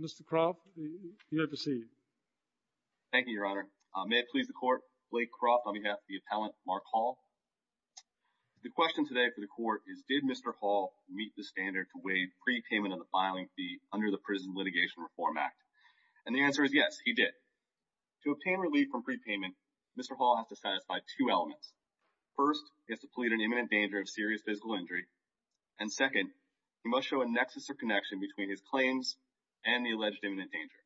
Mr. Crop, you have the seat. Thank you, Your Honor. May it please the Court, Blake Crop on behalf of the appellant, Mark Hall. The question today for the Court is, did Mr. Hall meet the standard to waive prepayment of the filing fee under the Prison Litigation Reform Act? And the answer is yes, he did. To obtain relief from prepayment, Mr. Hall has to satisfy two elements. First, he has to plead an imminent danger of serious physical injury. And second, he must show a nexus or connection between his claims and the alleged imminent danger.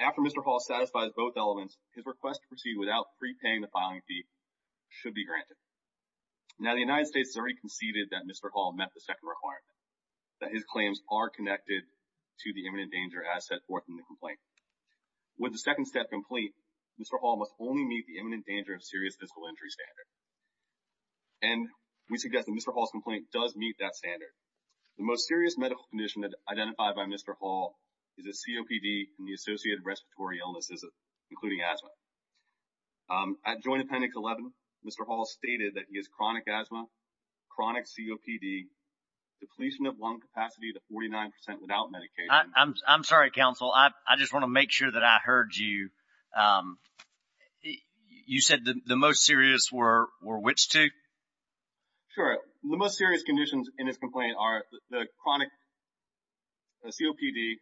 After Mr. Hall satisfies both elements, his request to proceed without prepaying the filing fee should be granted. Now, the United States has already conceded that Mr. Hall met the second requirement, that his claims are connected to the imminent danger as set forth in the complaint. With the second step complete, Mr. Hall must only meet the imminent danger of serious physical injury standard. And we suggest that Mr. Hall's complaint does meet that standard. The most serious medical condition identified by Mr. Hall is a COPD and the associated respiratory illnesses, including asthma. At Joint Appendix 11, Mr. Hall stated that he has chronic asthma, chronic COPD, depletion of lung capacity to 49% without medication. I'm sorry, Counsel. I just want to make sure that I heard you. You said the most serious were which two? Sure. The most serious conditions in his complaint are the chronic COPD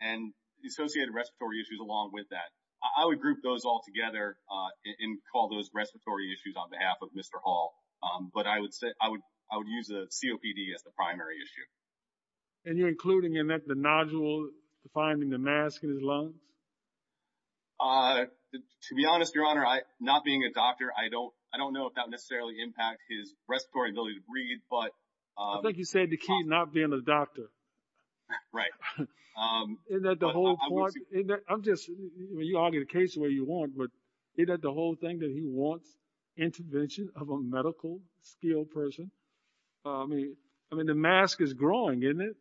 and the associated respiratory issues along with that. I would group those all together and call those respiratory issues on behalf of Mr. Hall. But I would use the COPD as the primary issue. And you're including in that the nodule, defining the mask in his lungs? To be honest, Your Honor, not being a doctor, I don't know if that necessarily impacts his respiratory ability to breathe. I think you said the key is not being a doctor. Right. Isn't that the whole point? You argue the case the way you want, but isn't that the whole thing that he wants? Intervention of a medical skilled person? I mean, the mask is growing, isn't it?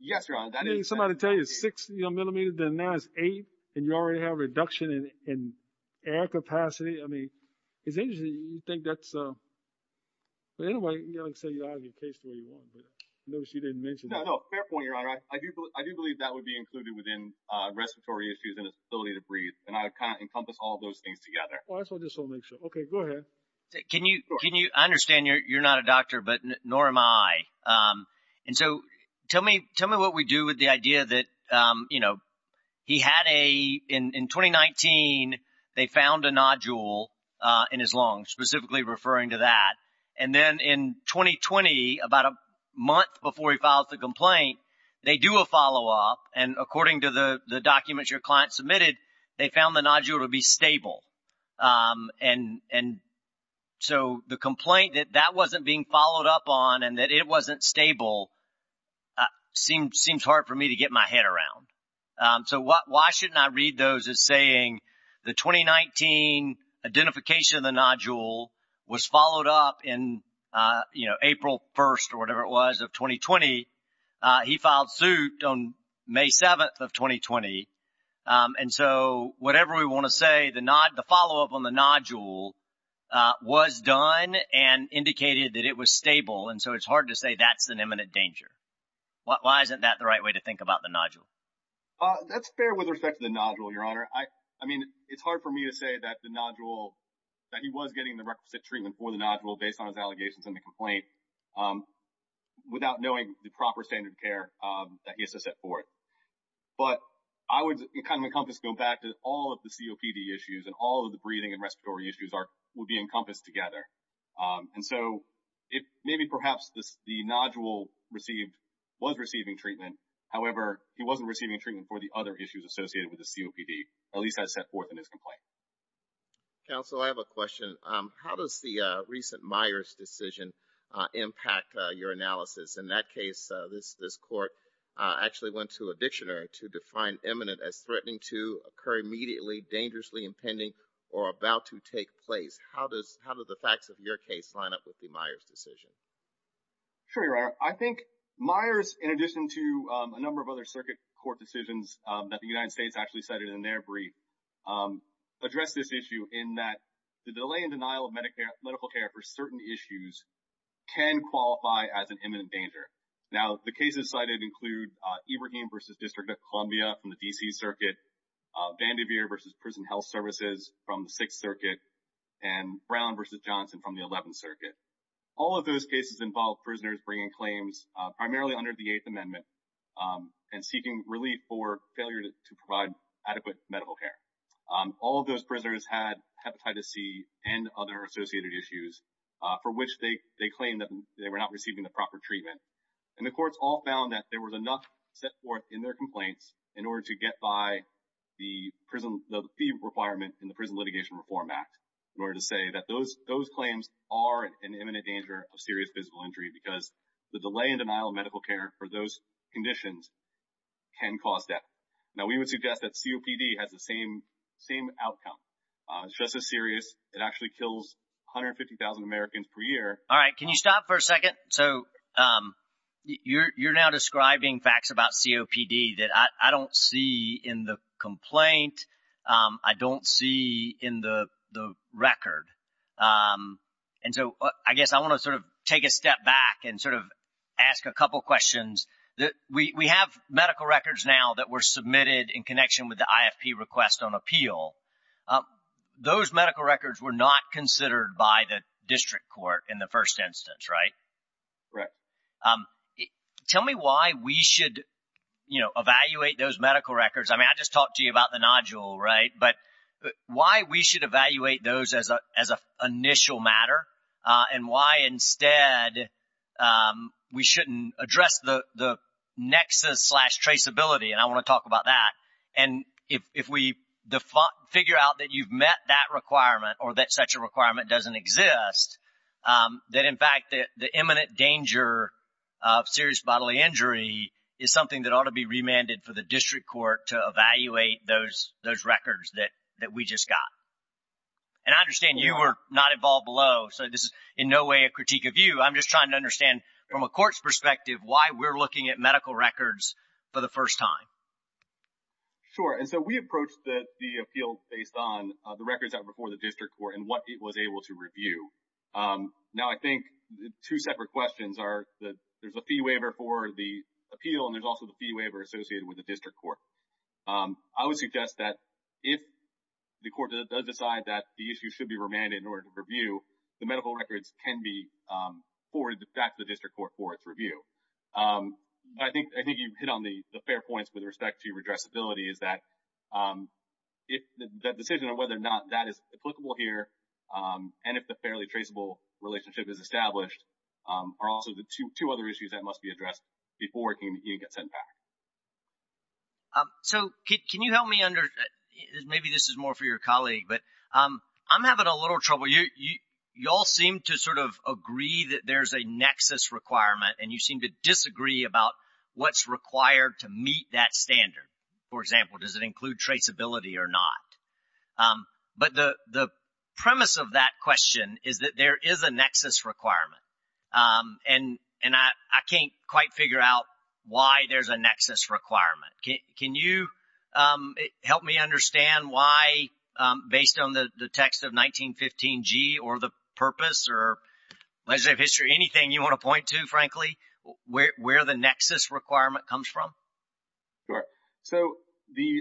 Yes, Your Honor. Somebody tell you it's six millimeters, and you already have reduction in air capacity. I mean, it's interesting. You think that's the way you argue the case the way you want, but I noticed you didn't mention that. Fair point, Your Honor. I do believe that would be included within respiratory issues and his ability to breathe, and I would kind of encompass all those things together. Well, that's what I just want to make sure. Okay, go ahead. Can you understand you're not a doctor, but nor am I. And so tell me what we do with the idea that, you know, he had a – in 2019, they found a nodule in his lung, specifically referring to that. And then in 2020, about a month before he filed the complaint, they do a follow-up, and according to the documents your client submitted, they found the nodule to be stable. And so the complaint that that wasn't being followed up on and that it wasn't stable seems hard for me to get my head around. So why shouldn't I read those as saying the 2019 identification of the nodule was followed up in, you know, April 1st or whatever it was of 2020. He filed suit on May 7th of 2020. And so whatever we want to say, the follow-up on the nodule was done and indicated that it was stable. And so it's hard to say that's an imminent danger. Why isn't that the right way to think about the nodule? That's fair with respect to the nodule, Your Honor. I mean, it's hard for me to say that the nodule – that he was getting the requisite treatment for the nodule based on his allegations in the complaint without knowing the proper standard of care that he has to set forth. But I would kind of encompass – go back to all of the COPD issues and all of the breathing and respiratory issues would be encompassed together. And so maybe perhaps the nodule was receiving treatment. However, he wasn't receiving treatment for the other issues associated with the COPD, at least as set forth in his complaint. Counsel, I have a question. How does the recent Myers decision impact your analysis? In that case, this court actually went to a dictionary to define imminent as threatening to occur immediately, dangerously impending, or about to take place. How do the facts of your case line up with the Myers decision? Sure, Your Honor. I think Myers, in addition to a number of other circuit court decisions that the United States actually cited in their brief, addressed this issue in that the delay and denial of medical care for certain issues can qualify as an imminent danger. Now, the cases cited include Ibrahim v. District of Columbia from the D.C. Circuit, Vandiver v. Prison Health Services from the Sixth Circuit, and Brown v. Johnson from the Eleventh Circuit. All of those cases involved prisoners bringing claims primarily under the Eighth Amendment and seeking relief for failure to provide adequate medical care. All of those prisoners had hepatitis C and other associated issues for which they claimed that they were not receiving the proper treatment. And the courts all found that there was enough set forth in their complaints in order to get by the fee requirement in the Prison Litigation Reform Act, in order to say that those claims are an imminent danger of serious physical injury because the delay and denial of medical care for those conditions can cause death. Now, we would suggest that COPD has the same outcome. It's just as serious. It actually kills 150,000 Americans per year. All right. Can you stop for a second? So, you're now describing facts about COPD that I don't see in the complaint. I don't see in the record. And so, I guess I want to sort of take a step back and sort of ask a couple questions. We have medical records now that were submitted in connection with the IFP request on appeal. Those medical records were not considered by the district court in the first instance, right? Right. Tell me why we should, you know, evaluate those medical records. I mean, I just talked to you about the nodule, right? But why we should evaluate those as an initial matter and why instead we shouldn't address the nexus slash traceability? And I want to talk about that. And if we figure out that you've met that requirement or that such a requirement doesn't exist, that in fact the imminent danger of serious bodily injury is something that ought to be remanded for the district court to evaluate those records that we just got. And I understand you were not involved below, so this is in no way a critique of you. I'm just trying to understand from a court's perspective why we're looking at medical records for the first time. Sure. And so we approach the appeal based on the records that were before the district court and what it was able to review. Now, I think two separate questions are that there's a fee waiver for the appeal and there's also the fee waiver associated with the district court. I would suggest that if the court does decide that the issue should be remanded in order to review, the medical records can be forwarded back to the district court for its review. I think you hit on the fair points with respect to redressability, is that the decision of whether or not that is applicable here and if the fairly traceable relationship is established are also the two other issues that must be addressed before it can even get sent back. So can you help me under – maybe this is more for your colleague, but I'm having a little trouble. You all seem to sort of agree that there's a nexus requirement and you seem to disagree about what's required to meet that standard. For example, does it include traceability or not? But the premise of that question is that there is a nexus requirement and I can't quite figure out why there's a nexus requirement. Can you help me understand why, based on the text of 1915G or the purpose or legislative history, anything you want to point to, frankly, where the nexus requirement comes from? Sure. So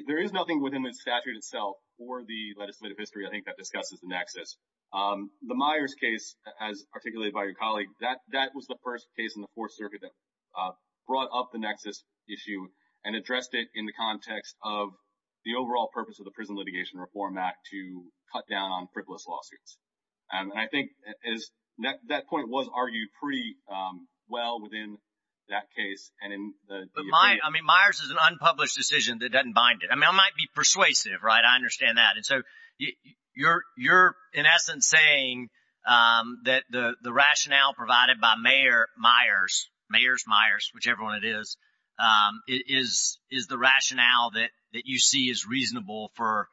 there is nothing within the statute itself or the legislative history, I think, that discusses the nexus. The Myers case, as articulated by your colleague, that was the first case in the Fourth Circuit that brought up the nexus issue and addressed it in the context of the overall purpose of the Prison Litigation Reform Act to cut down on frivolous lawsuits. And I think that point was argued pretty well within that case. But, I mean, Myers is an unpublished decision that doesn't bind it. I mean, I might be persuasive, right? I understand that. And so you're, in essence, saying that the rationale provided by Mayor Myers, whichever one it is, is the rationale that you see is reasonable for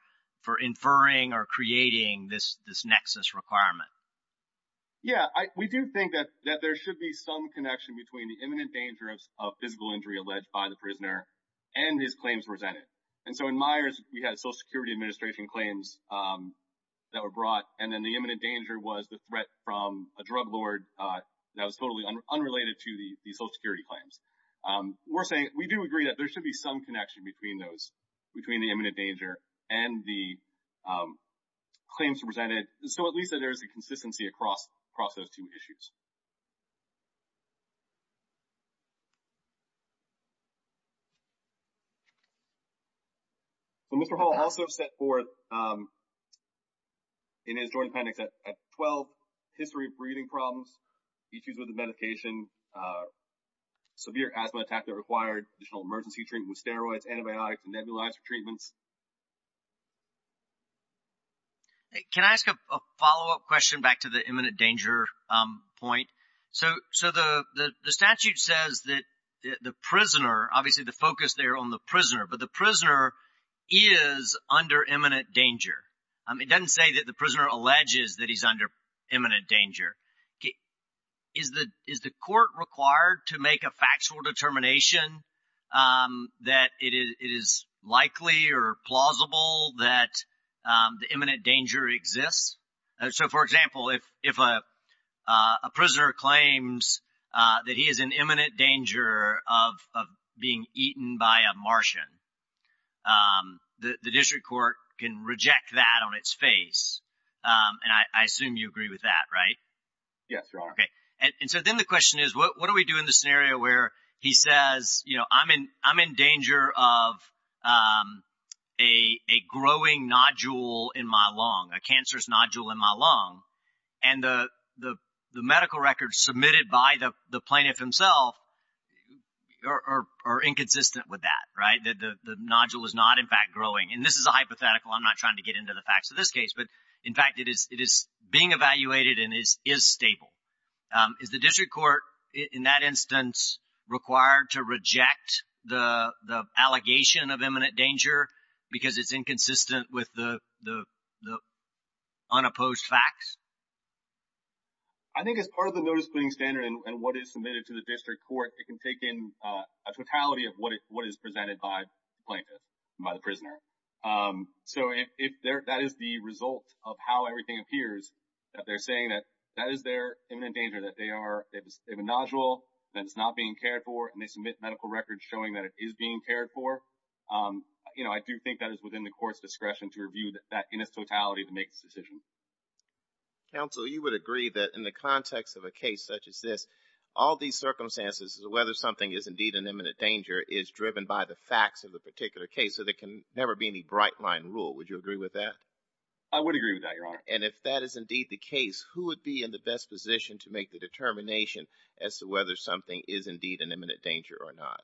inferring or creating this nexus requirement. Yeah. We do think that there should be some connection between the imminent danger of physical injury alleged by the prisoner and his claims presented. And so in Myers, we had Social Security Administration claims that were brought, and then the imminent danger was the threat from a drug lord that was totally unrelated to the Social Security claims. We're saying we do agree that there should be some connection between those, between the imminent danger and the claims presented, so at least that there is a consistency across those two issues. Well, Mr. Hall also set forth in his joint appendix that at 12, history of breathing problems, issues with the medication, severe asthma attack that required additional emergency treatment with steroids, antibiotics, and nebulizer treatments. Can I ask a follow-up question back to the imminent danger point? So the statute says that the prisoner, obviously the focus there on the prisoner, but the prisoner is under imminent danger. It doesn't say that the prisoner alleges that he's under imminent danger. Is the court required to make a factual determination that it is likely or plausible that the imminent danger exists? So, for example, if a prisoner claims that he is in imminent danger of being eaten by a Martian, the district court can reject that on its face, and I assume you agree with that, right? Yes, Your Honor. Okay. And so then the question is, what do we do in the scenario where he says, you know, I'm in danger of a growing nodule in my lung, a cancerous nodule in my lung, and the medical records submitted by the plaintiff himself are inconsistent with that, right? The nodule is not, in fact, growing. And this is a hypothetical. I'm not trying to get into the facts of this case. But, in fact, it is being evaluated and is stable. Is the district court, in that instance, required to reject the allegation of imminent danger because it's inconsistent with the unopposed facts? I think as part of the notice-putting standard and what is submitted to the district court, it can take in a totality of what is presented by the plaintiff, by the prisoner. So if that is the result of how everything appears, that they're saying that that is their imminent danger, that they have a nodule that is not being cared for, and they submit medical records showing that it is being cared for, you know, I do think that is within the court's discretion to review that in its totality to make this decision. Counsel, you would agree that in the context of a case such as this, all these circumstances, whether something is indeed an imminent danger, is driven by the facts of the particular case, so there can never be any bright-line rule. I would agree with that, Your Honor. And if that is indeed the case, who would be in the best position to make the determination as to whether something is indeed an imminent danger or not?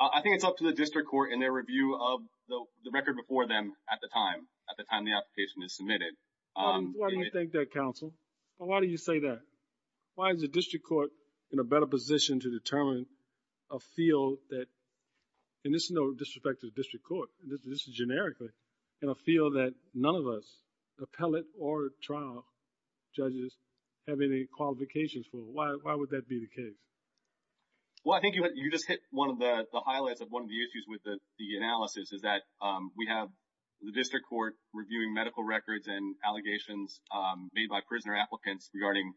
I think it's up to the district court and their review of the record before them at the time, at the time the application is submitted. Why do you think that, Counsel? Why do you say that? Why is the district court in a better position to determine a field that, and this is no disrespect to the district court, this is generically, in a field that none of us, appellate or trial judges, have any qualifications for? Why would that be the case? Well, I think you just hit one of the highlights of one of the issues with the analysis, is that we have the district court reviewing medical records and allegations made by prisoner applicants regarding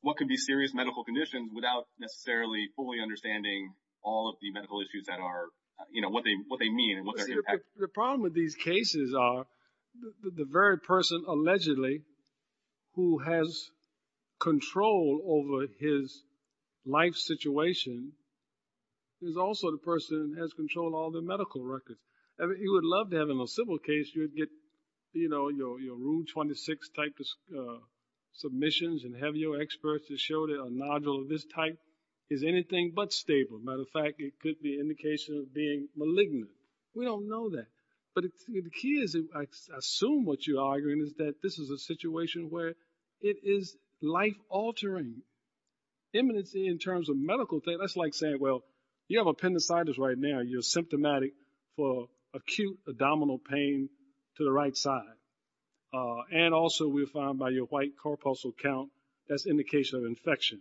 what could be serious medical conditions without necessarily fully understanding all of the medical issues that are, you know, what they mean and what their impact is. In fact, the problem with these cases are the very person, allegedly, who has control over his life situation is also the person who has control of all their medical records. You would love to have in a civil case, you would get, you know, your Rule 26 type of submissions and have your experts to show that a nodule of this type is anything but stable. Matter of fact, it could be an indication of being malignant. We don't know that. But the key is, I assume what you're arguing, is that this is a situation where it is life-altering. Imminency in terms of medical things, that's like saying, well, you have appendicitis right now, you're symptomatic for acute abdominal pain to the right side. And also we found by your white corpuscle count, that's indication of infection.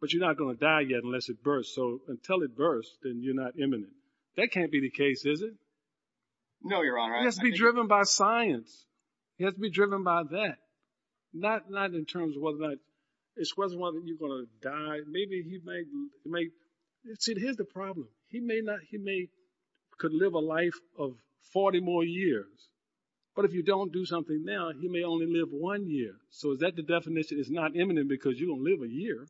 But you're not going to die yet unless it bursts. So until it bursts, then you're not imminent. That can't be the case, is it? No, Your Honor. He has to be driven by science. He has to be driven by that. Not in terms of whether or not it's whether or not you're going to die. Maybe he may – see, here's the problem. He may not – he may could live a life of 40 more years. But if you don't do something now, he may only live one year. So is that the definition is not imminent because you're going to live a year?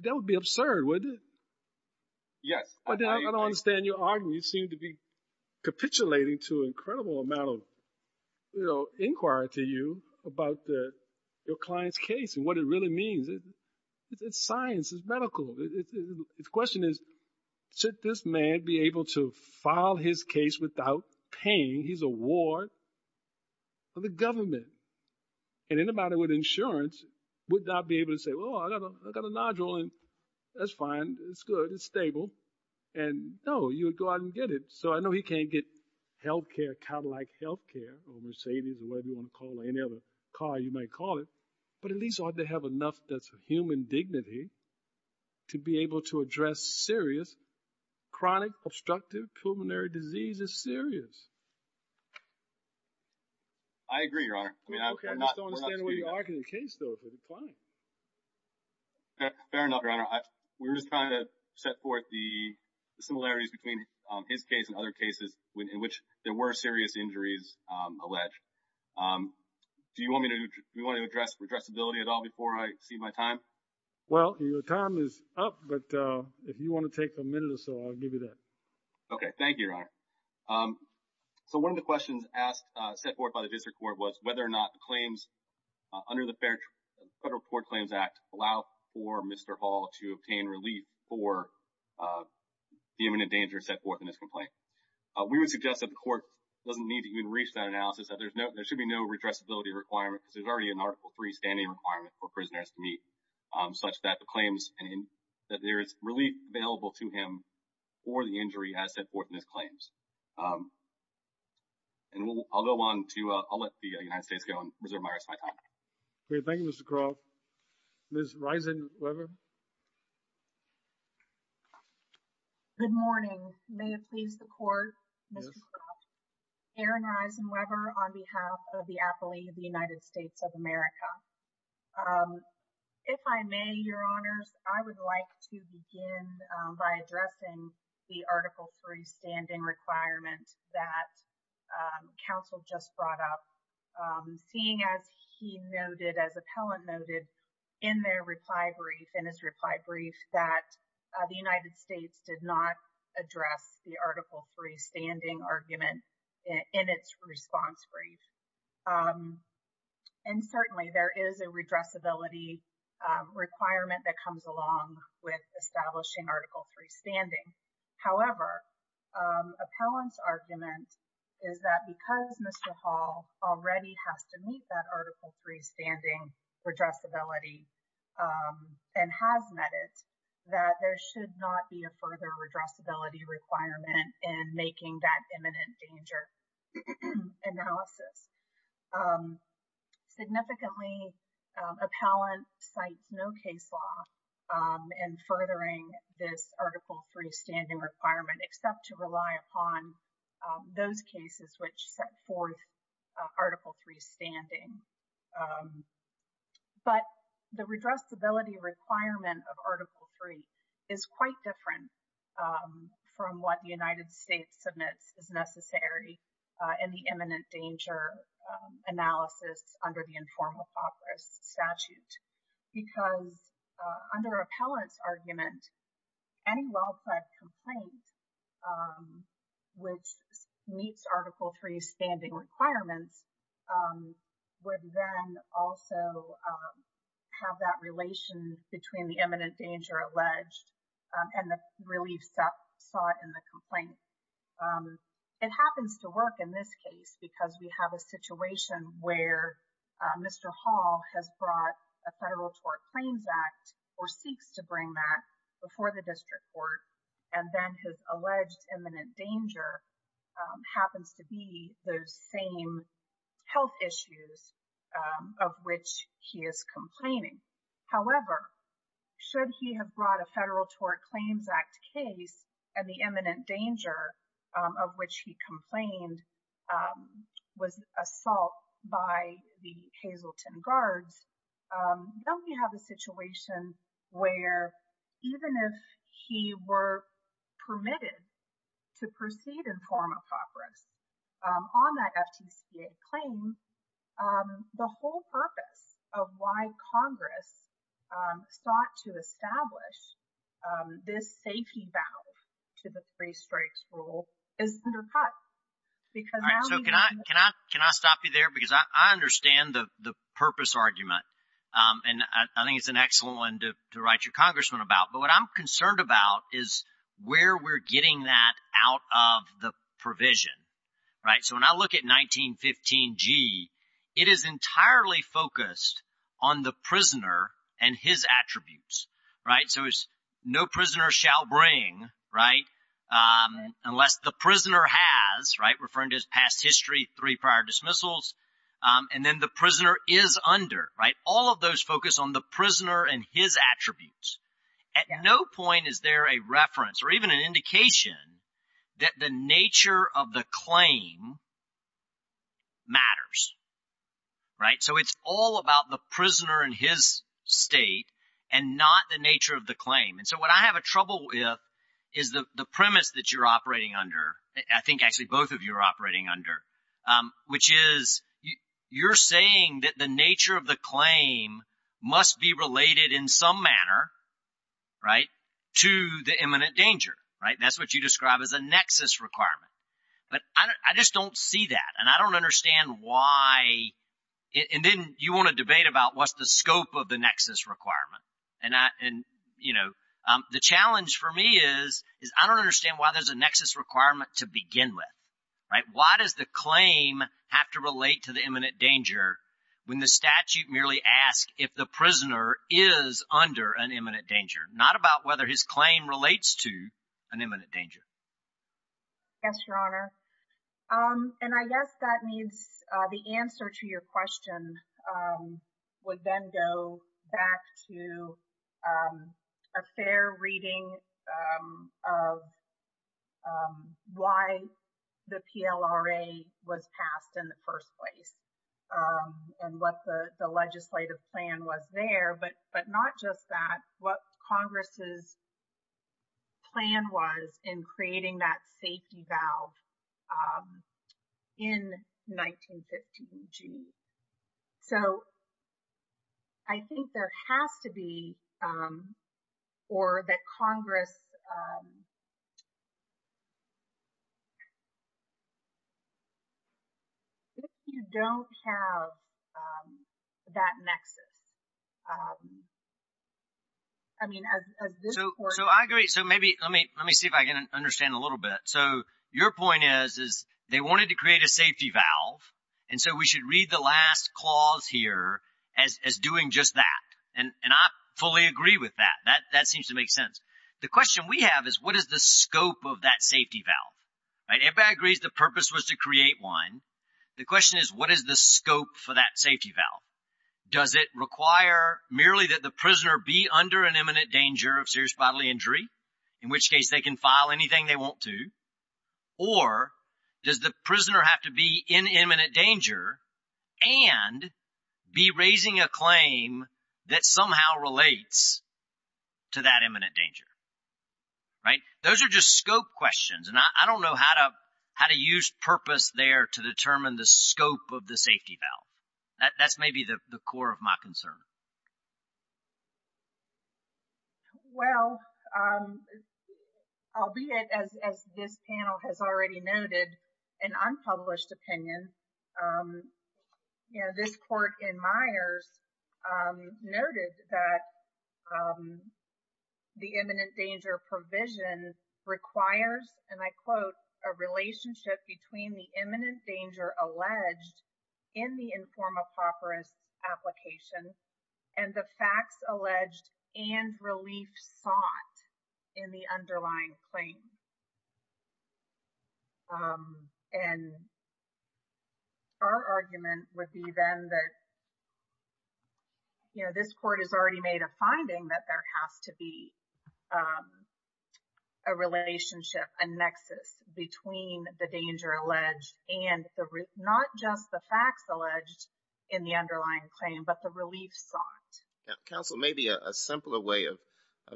That would be absurd, wouldn't it? Yes. I don't understand your argument. You seem to be capitulating to an incredible amount of, you know, inquiry to you about your client's case and what it really means. It's science. It's medical. The question is, should this man be able to file his case without pain? He's a ward for the government. And anybody with insurance would not be able to say, well, I got a nodule, and that's fine. It's good. It's stable. And, no, you would go out and get it. So I know he can't get health care, Cadillac health care or Mercedes or whatever you want to call it, any other car you might call it, but at least ought to have enough that's human dignity to be able to address serious chronic obstructive pulmonary disease as serious. I agree, Your Honor. We're not – I just don't understand where you're arguing the case, though, for the client. Fair enough, Your Honor. We're just trying to set forth the similarities between his case and other cases in which there were serious injuries alleged. Do you want me to – do you want to address addressability at all before I cede my time? Well, your time is up, but if you want to take a minute or so, I'll give you that. Okay. Thank you, Your Honor. So one of the questions asked, set forth by the district court, was whether or not the claims under the Federal Court Claims Act allow for Mr. Hall to obtain relief for the imminent danger set forth in his complaint. We would suggest that the court doesn't need to even reach that analysis, that there should be no redressability requirement because there's already an Article III standing requirement for prisoners to meet such that the claims that there is relief available to him for the injury as set forth in his claims. And I'll go on to – I'll let the United States go and reserve my rest of my time. Great. Thank you, Mr. Croft. Ms. Risenweber? Good morning. May it please the Court, Mr. Croft? Yes. Erin Risenweber on behalf of the affilee of the United States of America. If I may, Your Honors, I would like to begin by addressing the Article III standing requirement that counsel just brought up, seeing as he noted, as appellant noted, in their reply brief, in his reply brief, that the United States did not address the Article III standing argument in its response brief. And certainly, there is a redressability requirement that comes along with establishing Article III standing. However, appellant's argument is that because Mr. Hall already has to meet that Article III standing redressability and has met it, that there should not be a further redressability requirement in making that imminent danger analysis. Significantly, appellant cites no case law in furthering this Article III standing requirement, except to rely upon those cases which set forth Article III standing. But the redressability requirement of Article III is quite different from what the United States submits as necessary in the imminent danger analysis under the informal process statute because under appellant's argument, any well-planned complaint which meets Article III standing requirements would then also have that relation between the imminent danger alleged and the relief sought in the complaint. It happens to work in this case because we have a situation where Mr. Hall has brought a federal tort claims act or seeks to bring that before the district court and then his alleged imminent danger happens to be those same health issues of which he is complaining. However, should he have brought a federal tort claims act case and the imminent danger of which he complained was assault by the Hazleton guards, then we have a situation where even if he were permitted to proceed in form of progress on that FTCA claim, the whole purpose of why Congress sought to establish this safety valve to the three strikes rule is undercut. So can I stop you there? Because I understand the purpose argument and I think it's an excellent one to write your congressman about. But what I'm concerned about is where we're getting that out of the provision. So when I look at 1915G, it is entirely focused on the prisoner and his attributes. So it's no prisoner shall bring unless the prisoner has, referring to his past history, three prior dismissals, and then the prisoner is under. All of those focus on the prisoner and his attributes. At no point is there a reference or even an indication that the nature of the claim matters. So it's all about the prisoner and his state and not the nature of the claim. And so what I have a trouble with is the premise that you're operating under, I think actually both of you are operating under, which is you're saying that the nature of the claim must be related in some manner to the imminent danger. That's what you describe as a nexus requirement. But I just don't see that and I don't understand why, and then you want to debate about what's the scope of the nexus requirement. And the challenge for me is, I don't understand why there's a nexus requirement to begin with. Why does the claim have to relate to the imminent danger when the statute merely asks if the prisoner is under an imminent danger? Not about whether his claim relates to an imminent danger. Yes, Your Honor. And I guess that means the answer to your question would then go back to a fair reading of why the PLRA was passed in the first place and what the legislative plan was there. But not just that, what Congress's plan was in creating that safety valve in 1915. So I think there has to be, or that Congress, if you don't have that nexus. I mean, as this court... So I agree. So maybe, let me see if I can understand a little bit. So your point is, they wanted to create a safety valve and so we should read the last clause here as doing just that. And I fully agree with that. That seems to make sense. The question we have is, what is the scope of that safety valve? Everybody agrees the purpose was to create one. The question is, what is the scope for that safety valve? Does it require merely that the prisoner be under an imminent danger of serious bodily injury? In which case they can file anything they want to. Or does the prisoner have to be in imminent danger and be raising a claim that somehow relates to that imminent danger? Those are just scope questions. And I don't know how to use purpose there to determine the scope of the safety valve. That's maybe the core of my concern. Well, albeit as this panel has already noted, this is an unpublished opinion. This court in Myers noted that the imminent danger provision requires, and I quote, a relationship between the imminent danger alleged in the informed apocryphal application and the facts alleged and relief sought in the underlying claim. And our argument would be then that this court has already made a finding that there has to be a relationship, a nexus between the danger alleged and not just the facts alleged in the underlying claim but the relief sought. Counsel, maybe a simpler way of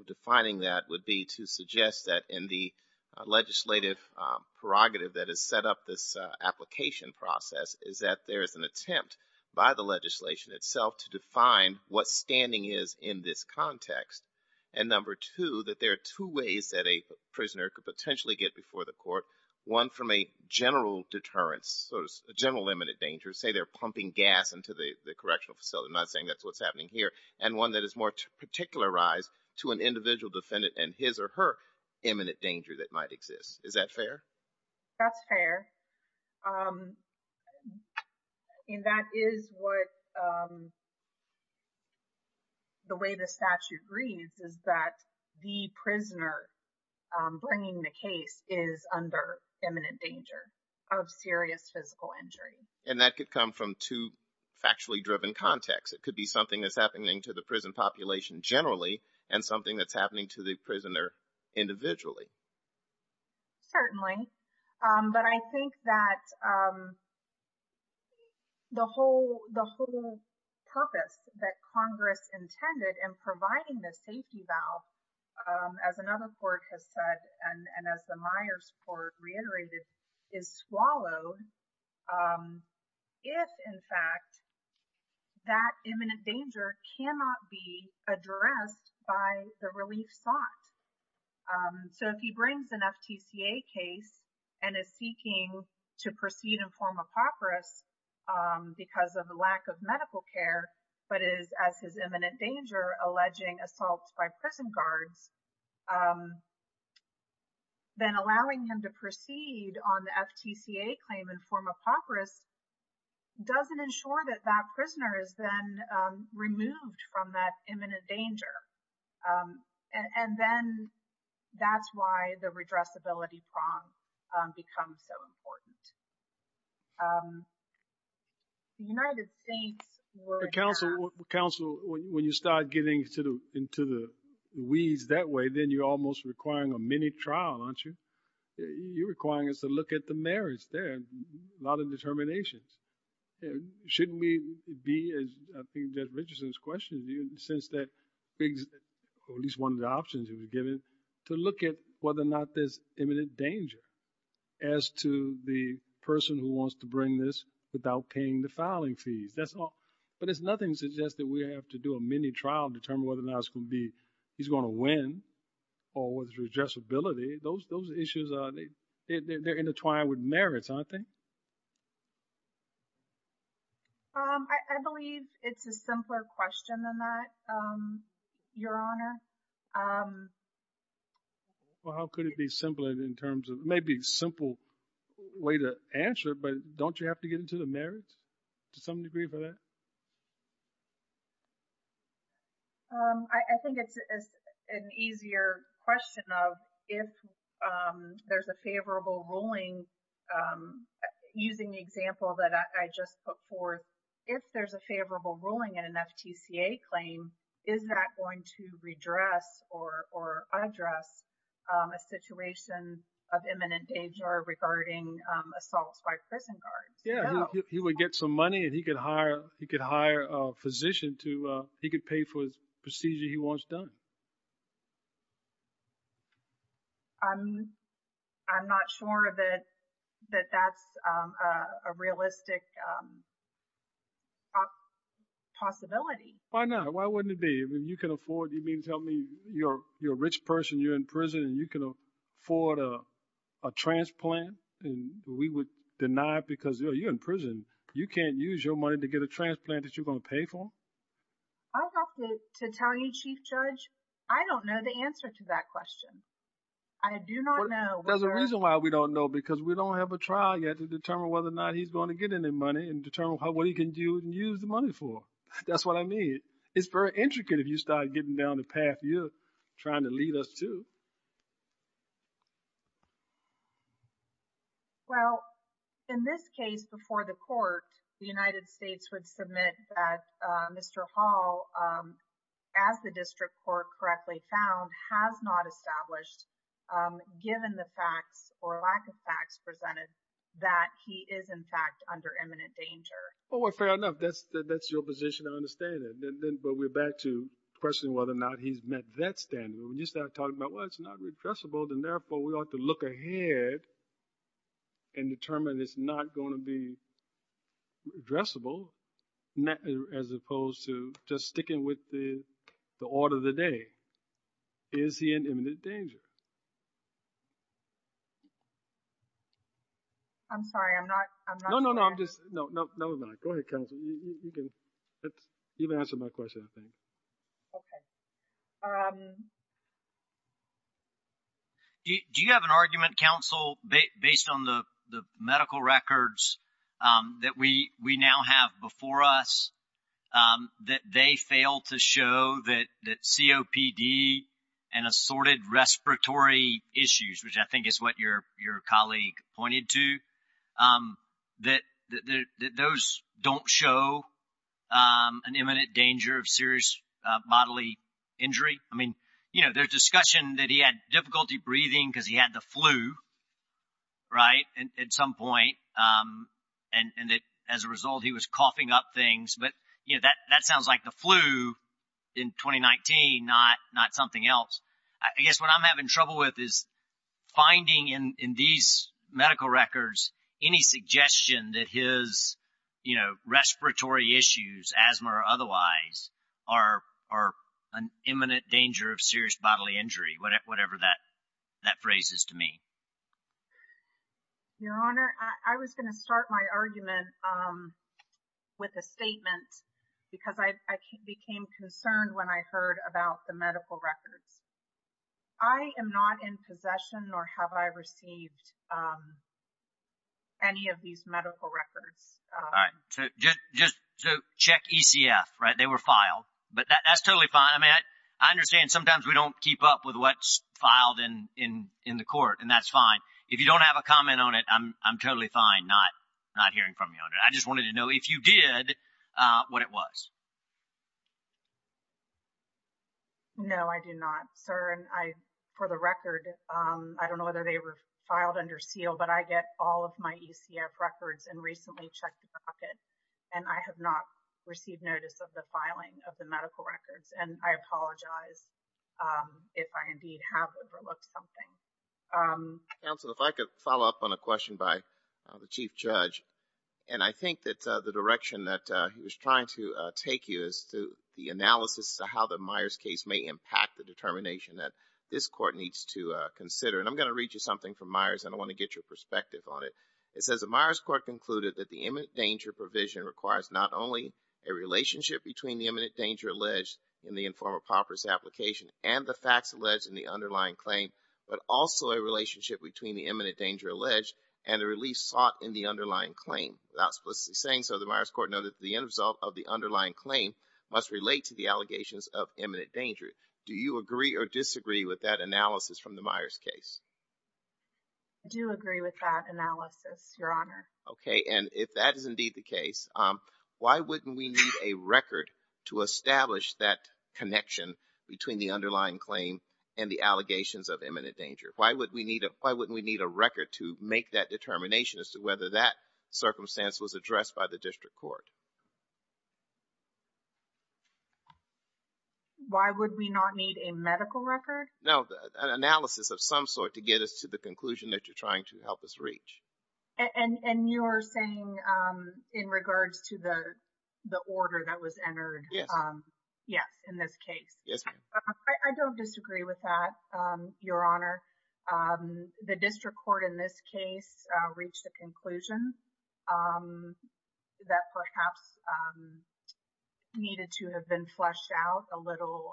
defining that would be to suggest that in the legislative prerogative that has set up this application process is that there is an attempt by the legislation itself to define what standing is in this context. And number two, that there are two ways that a prisoner could potentially get before the court. One from a general deterrence, a general imminent danger. Say they're pumping gas into the correctional facility. I'm not saying that's what's happening here. And one that is more particularized to an individual defendant and his or her imminent danger that might exist. Is that fair? That's fair. And that is what the way the statute reads is that the prisoner bringing the case is under imminent danger of serious physical injury. And that could come from two factually driven contexts. It could be something that's happening to the prison population generally and something that's happening to the prisoner individually. Certainly. But I think that the whole purpose that Congress intended in providing the safety valve, as another court has said and as the Myers court reiterated, is swallowed. If in fact that imminent danger cannot be addressed by the relief sought. So if he brings an FTCA case and is seeking to proceed and form a papyrus because of the lack of medical care, but is as his imminent danger, alleging assaults by prison guards. Then allowing him to proceed on the FTCA claim and form a papyrus doesn't ensure that that prisoner is then removed from that imminent danger. And then that's why the redressability prompt becomes so important. The United States. Council, when you start getting into the weeds that way, then you're almost requiring a mini trial, aren't you? You're requiring us to look at the merits there. A lot of determinations. Shouldn't we be, as I think Judge Richardson's question, in the sense that at least one of the options he was given, to look at whether or not there's imminent danger as to the person who wants to bring this without paying the filing fees. But it's nothing to suggest that we have to do a mini trial to determine whether or not he's going to win or whether there's redressability. Those issues, they're intertwined with merits, aren't they? I believe it's a simpler question than that, Your Honor. Well, how could it be simpler in terms of maybe a simple way to answer, but don't you have to get into the merits to some degree for that? I think it's an easier question of if there's a favorable ruling, using the example that I just put forth, if there's a favorable ruling in an FTCA claim, is that going to redress or address a situation of imminent danger regarding assaults by prison guards? Yeah, he would get some money and he could hire a physician to – he could pay for his procedure he wants done. I'm not sure that that's a realistic possibility. Why not? Why wouldn't it be? If you can afford – you mean to tell me you're a rich person, you're in prison and you can afford a transplant and we would deny it because, you know, you're in prison. You can't use your money to get a transplant that you're going to pay for? I have to tell you, Chief Judge, I don't know the answer to that question. I do not know. There's a reason why we don't know because we don't have a trial yet to determine whether or not he's going to get any money and determine what he can do and use the money for. That's what I mean. It's very intricate if you start getting down the path you're trying to lead us to. Well, in this case before the court, the United States would submit that Mr. Hall, as the district court correctly found, has not established given the facts or lack of facts presented that he is in fact under imminent danger. Well, fair enough. That's your position. I understand that. But we're back to questioning whether or not he's met that standard. When you start talking about, well, it's not repressible, then therefore we ought to look ahead and determine it's not going to be addressable as opposed to just sticking with the order of the day. Is he in imminent danger? I'm sorry. I'm not sure. No, no, no. Go ahead, counsel. You can answer my question, I think. Okay. Do you have an argument, counsel, based on the medical records that we now have before us that they fail to show that COPD and assorted respiratory issues, which I think is what your colleague pointed to, that those don't show an imminent danger of serious bodily injury? I mean, there's discussion that he had difficulty breathing because he had the flu, right, at some point, and that as a result he was coughing up things. But that sounds like the flu in 2019, not something else. I guess what I'm having trouble with is finding in these medical records any suggestion that his respiratory issues, asthma or otherwise, are an imminent danger of serious bodily injury, whatever that phrase is to me. Your Honor, I was going to start my argument with a statement because I became concerned when I heard about the medical records. I am not in possession nor have I received any of these medical records. All right. Just check ECF, right? They were filed. But that's totally fine. I mean, I understand sometimes we don't keep up with what's filed in the court, and that's fine. If you don't have a comment on it, I'm totally fine not hearing from you on it. I just wanted to know if you did what it was. No, I did not, sir. And for the record, I don't know whether they were filed under seal, but I get all of my ECF records and recently checked the bucket, and I have not received notice of the filing of the medical records. And I apologize if I indeed have overlooked something. Counsel, if I could follow up on a question by the Chief Judge. And I think that the direction that he was trying to take you is the analysis of how the Myers case may impact the determination that this court needs to consider. And I'm going to read you something from Myers, and I want to get your perspective on it. It says, Without explicitly saying so, the Myers court noted that the end result of the underlying claim must relate to the allegations of imminent danger. Do you agree or disagree with that analysis from the Myers case? I do agree with that analysis, Your Honor. Okay. And if that is indeed the case, why wouldn't we need a record to establish that connection between the underlying claim and the allegations of imminent danger? Why wouldn't we need a record to make that determination as to whether that circumstance was addressed by the district court? Why would we not need a medical record? No, an analysis of some sort to get us to the conclusion that you're trying to help us reach. And you're saying in regards to the order that was entered? Yes. Yes, in this case. Yes, ma'am. I don't disagree with that, Your Honor. The district court in this case reached a conclusion that perhaps needed to have been fleshed out a little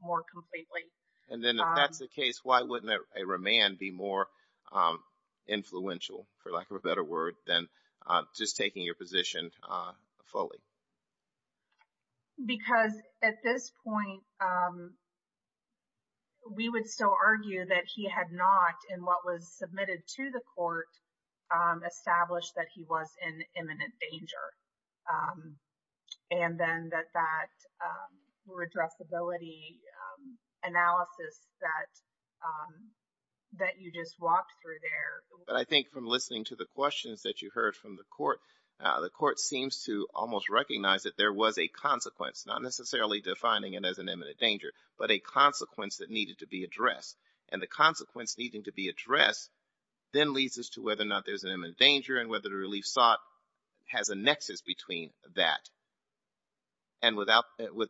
more completely. And then if that's the case, why wouldn't a remand be more influential, for lack of a better word, than just taking your position fully? Because at this point, we would still argue that he had not, in what was submitted to the court, established that he was in imminent danger. And then that that redressability analysis that you just walked through there. But I think from listening to the questions that you heard from the court, the court seems to almost recognize that there was a consequence, not necessarily defining it as an imminent danger, but a consequence that needed to be addressed. And the consequence needing to be addressed then leads us to whether or not there's an imminent danger and whether the relief sought has a nexus between that. And with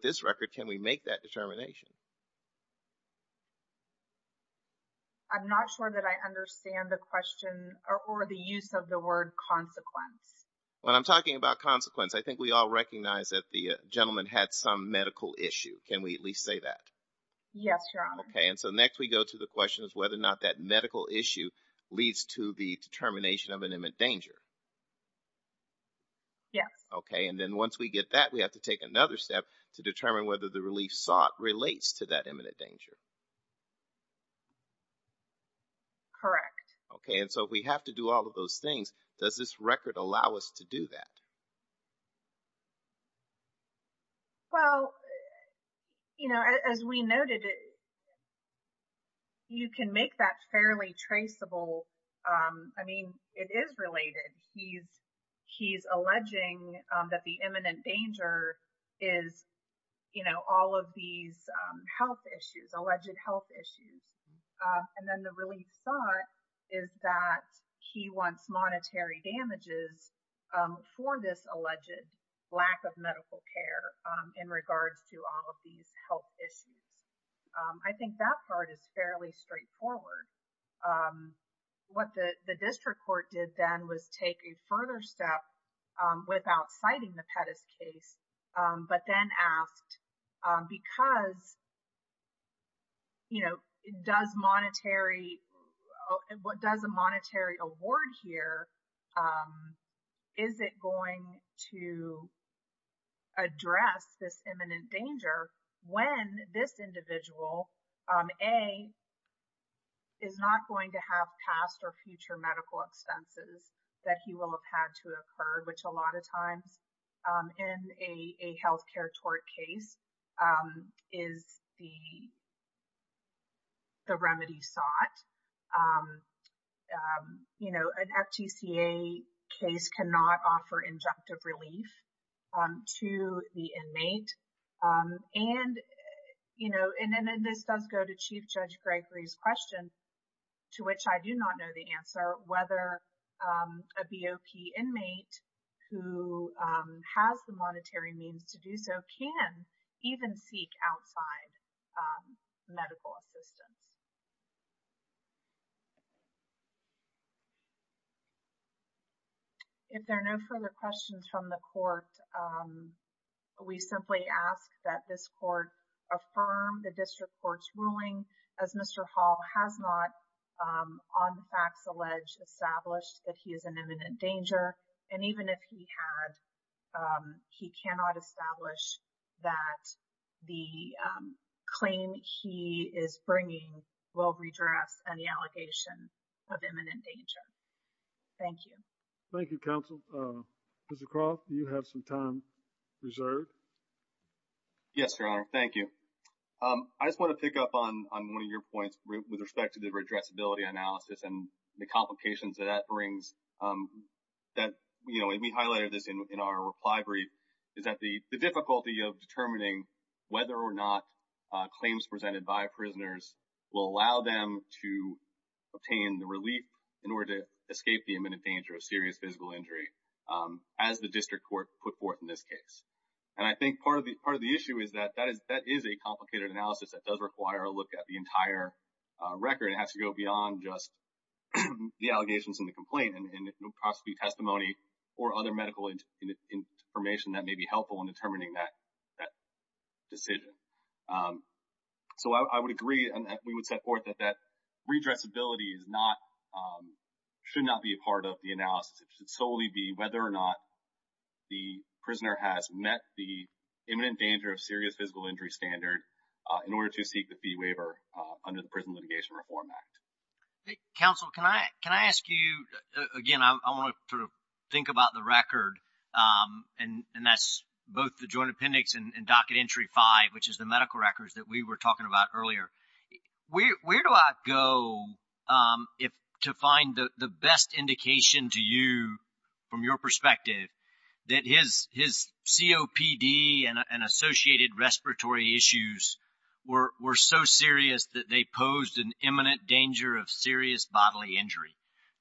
this record, can we make that determination? I'm not sure that I understand the question or the use of the word consequence. When I'm talking about consequence, I think we all recognize that the gentleman had some medical issue. Can we at least say that? Yes, Your Honor. Okay. And so next we go to the question of whether or not that medical issue leads to the determination of an imminent danger. Yes. Okay. And then once we get that, we have to take another step to determine whether the relief sought relates to that imminent danger. Correct. Okay. And so we have to do all of those things. Does this record allow us to do that? Well, you know, as we noted, you can make that fairly traceable. I mean, it is related. He's alleging that the imminent danger is, you know, all of these health issues, alleged health issues. And then the relief sought is that he wants monetary damages for this alleged lack of medical care in regards to all of these health issues. I think that part is fairly straightforward. What the district court did then was take a further step without citing the Pettus case, but then asked, because, you know, does monetary, what does a monetary award here, is it going to address this imminent danger when this individual, A is not going to have past or future medical expenses that he will have had to occur, which a lot of times in a, a healthcare tort case is the, the remedy sought, you know, an FGCA case cannot offer injunctive relief to the inmate. And, you know, and then this does go to Chief Judge Gregory's question, to which I do not know the answer, whether a BOP inmate who has the monetary means to do so can even seek outside medical assistance. If there are no further questions from the court, we simply ask that this court affirm the district court's ruling as Mr. Hall has not on the facts, alleged established that he is an imminent danger. And even if he had, he cannot establish that the claim he is bringing will redress any allegation of imminent danger. Thank you. Thank you counsel. Mr. Croft, do you have some time reserved? Yes, Your Honor. Thank you. I just want to pick up on one of your points with respect to the redressability analysis and the complications that that brings that, you know, and we highlighted this in our reply brief is that the difficulty of determining whether or not claims presented by prisoners will allow them to obtain the relief in order to escape the imminent danger of serious physical injury as the district court put forth in this case. And I think part of the, part of the issue is that that is that is a complicated analysis that does require a look at the entire record. It has to go beyond just the allegations in the complaint and possibly testimony or other medical information that may be helpful in determining that decision. So, I would agree and we would set forth that that redressability is not, should not be a part of the analysis. It should solely be whether or not the prisoner has met the imminent danger of serious physical injury standard in order to seek the fee waiver under the Prison Litigation Reform Act. Counsel, can I, can I ask you again, I want to sort of think about the record and that's both the joint entry five, which is the medical records that we were talking about earlier. Where do I go if, to find the best indication to you from your perspective that his, his COPD and associated respiratory issues were, were so serious that they posed an imminent danger of serious bodily injury?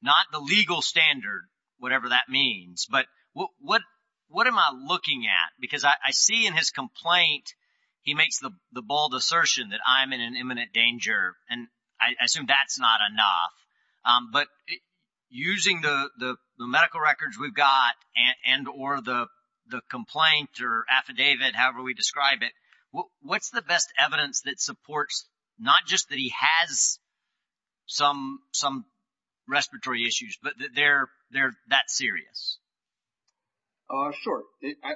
Not the legal standard, whatever that means, but what, what am I looking at? Because I see in his complaint, he makes the bold assertion that I'm in an imminent danger. And I assume that's not enough. But using the, the medical records we've got and, and or the, the complaint or affidavit, however we describe it, what's the best evidence that supports, not just that he has some, some respiratory issues, but they're, they're that serious. Sure.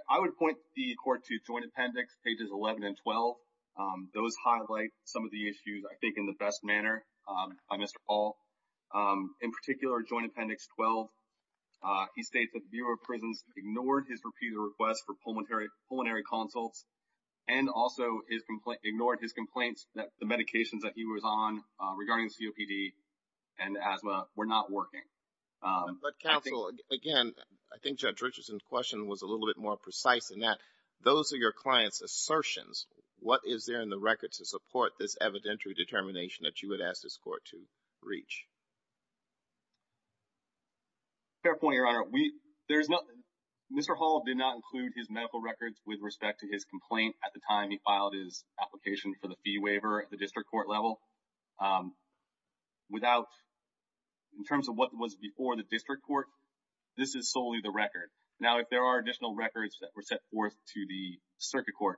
I would point the court to joint appendix pages 11 and 12. Those highlight some of the issues I think in the best manner. I missed all in particular joint appendix 12. He states that the Bureau of prisons ignored his repeated requests for pulmonary pulmonary consults. And also his complaint ignored his complaints that the medications that he was on regarding COPD and asthma were not working. Again, I think judge Richardson's question was a little bit more precise than that. Those are your clients assertions. What is there in the records to support this evidentiary determination that you would ask this court to reach? Fair point, your honor. We, there's nothing. Mr. Hall did not include his medical records with respect to his complaint at the time he filed his application for the fee waiver at the district court level. Without in terms of what was, before the district court, this is solely the record. Now, if there are additional records that were set forth to the circuit court,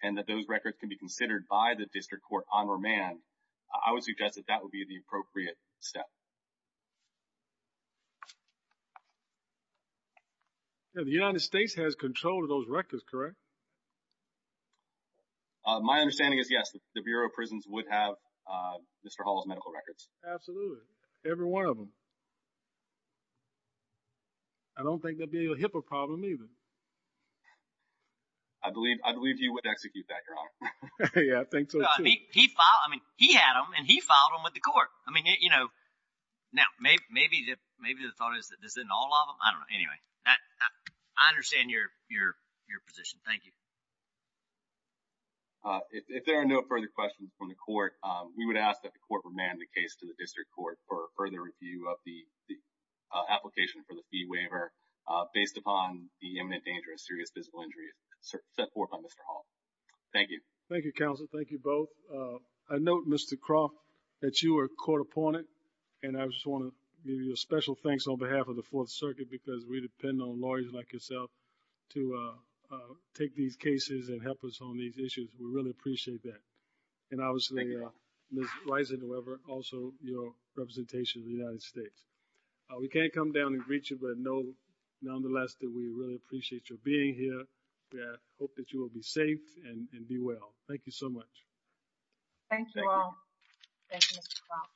and that those records can be considered by the district court on or man, I would suggest that that would be the appropriate step. The United States has control of those records, correct? My understanding is yes, the Bureau of prisons would have Mr. Hall's medical records. Absolutely. Every one of them. I don't think that'd be a HIPAA problem either. I believe you would execute that, your honor. Yeah, I think so too. He filed, I mean, he had them and he filed them with the court. I mean, you know, now maybe, maybe the thought is that this isn't all of them. I don't know. Anyway, I understand your, your, your position. Thank you. If there are no further questions from the court, we would ask that the court would man the case to the district court for further review of the, the application for the fee waiver based upon the imminent danger of serious physical injury set forth by Mr. Hall. Thank you. Thank you, counsel. Thank you both. I note Mr. Croft that you were caught upon it. And I just want to give you a special thanks on behalf of the fourth circuit, because we depend on lawyers like yourself to take these cases and help us on these issues. We really appreciate that. And obviously, uh, Ms. Weiser, whoever also, you know, representation of the United States. Uh, we can't come down and reach it, but no, nonetheless, that we really appreciate your being here. Yeah. Hope that you will be safe and be well. Thank you so much. Thank you all. Thank you, Mr.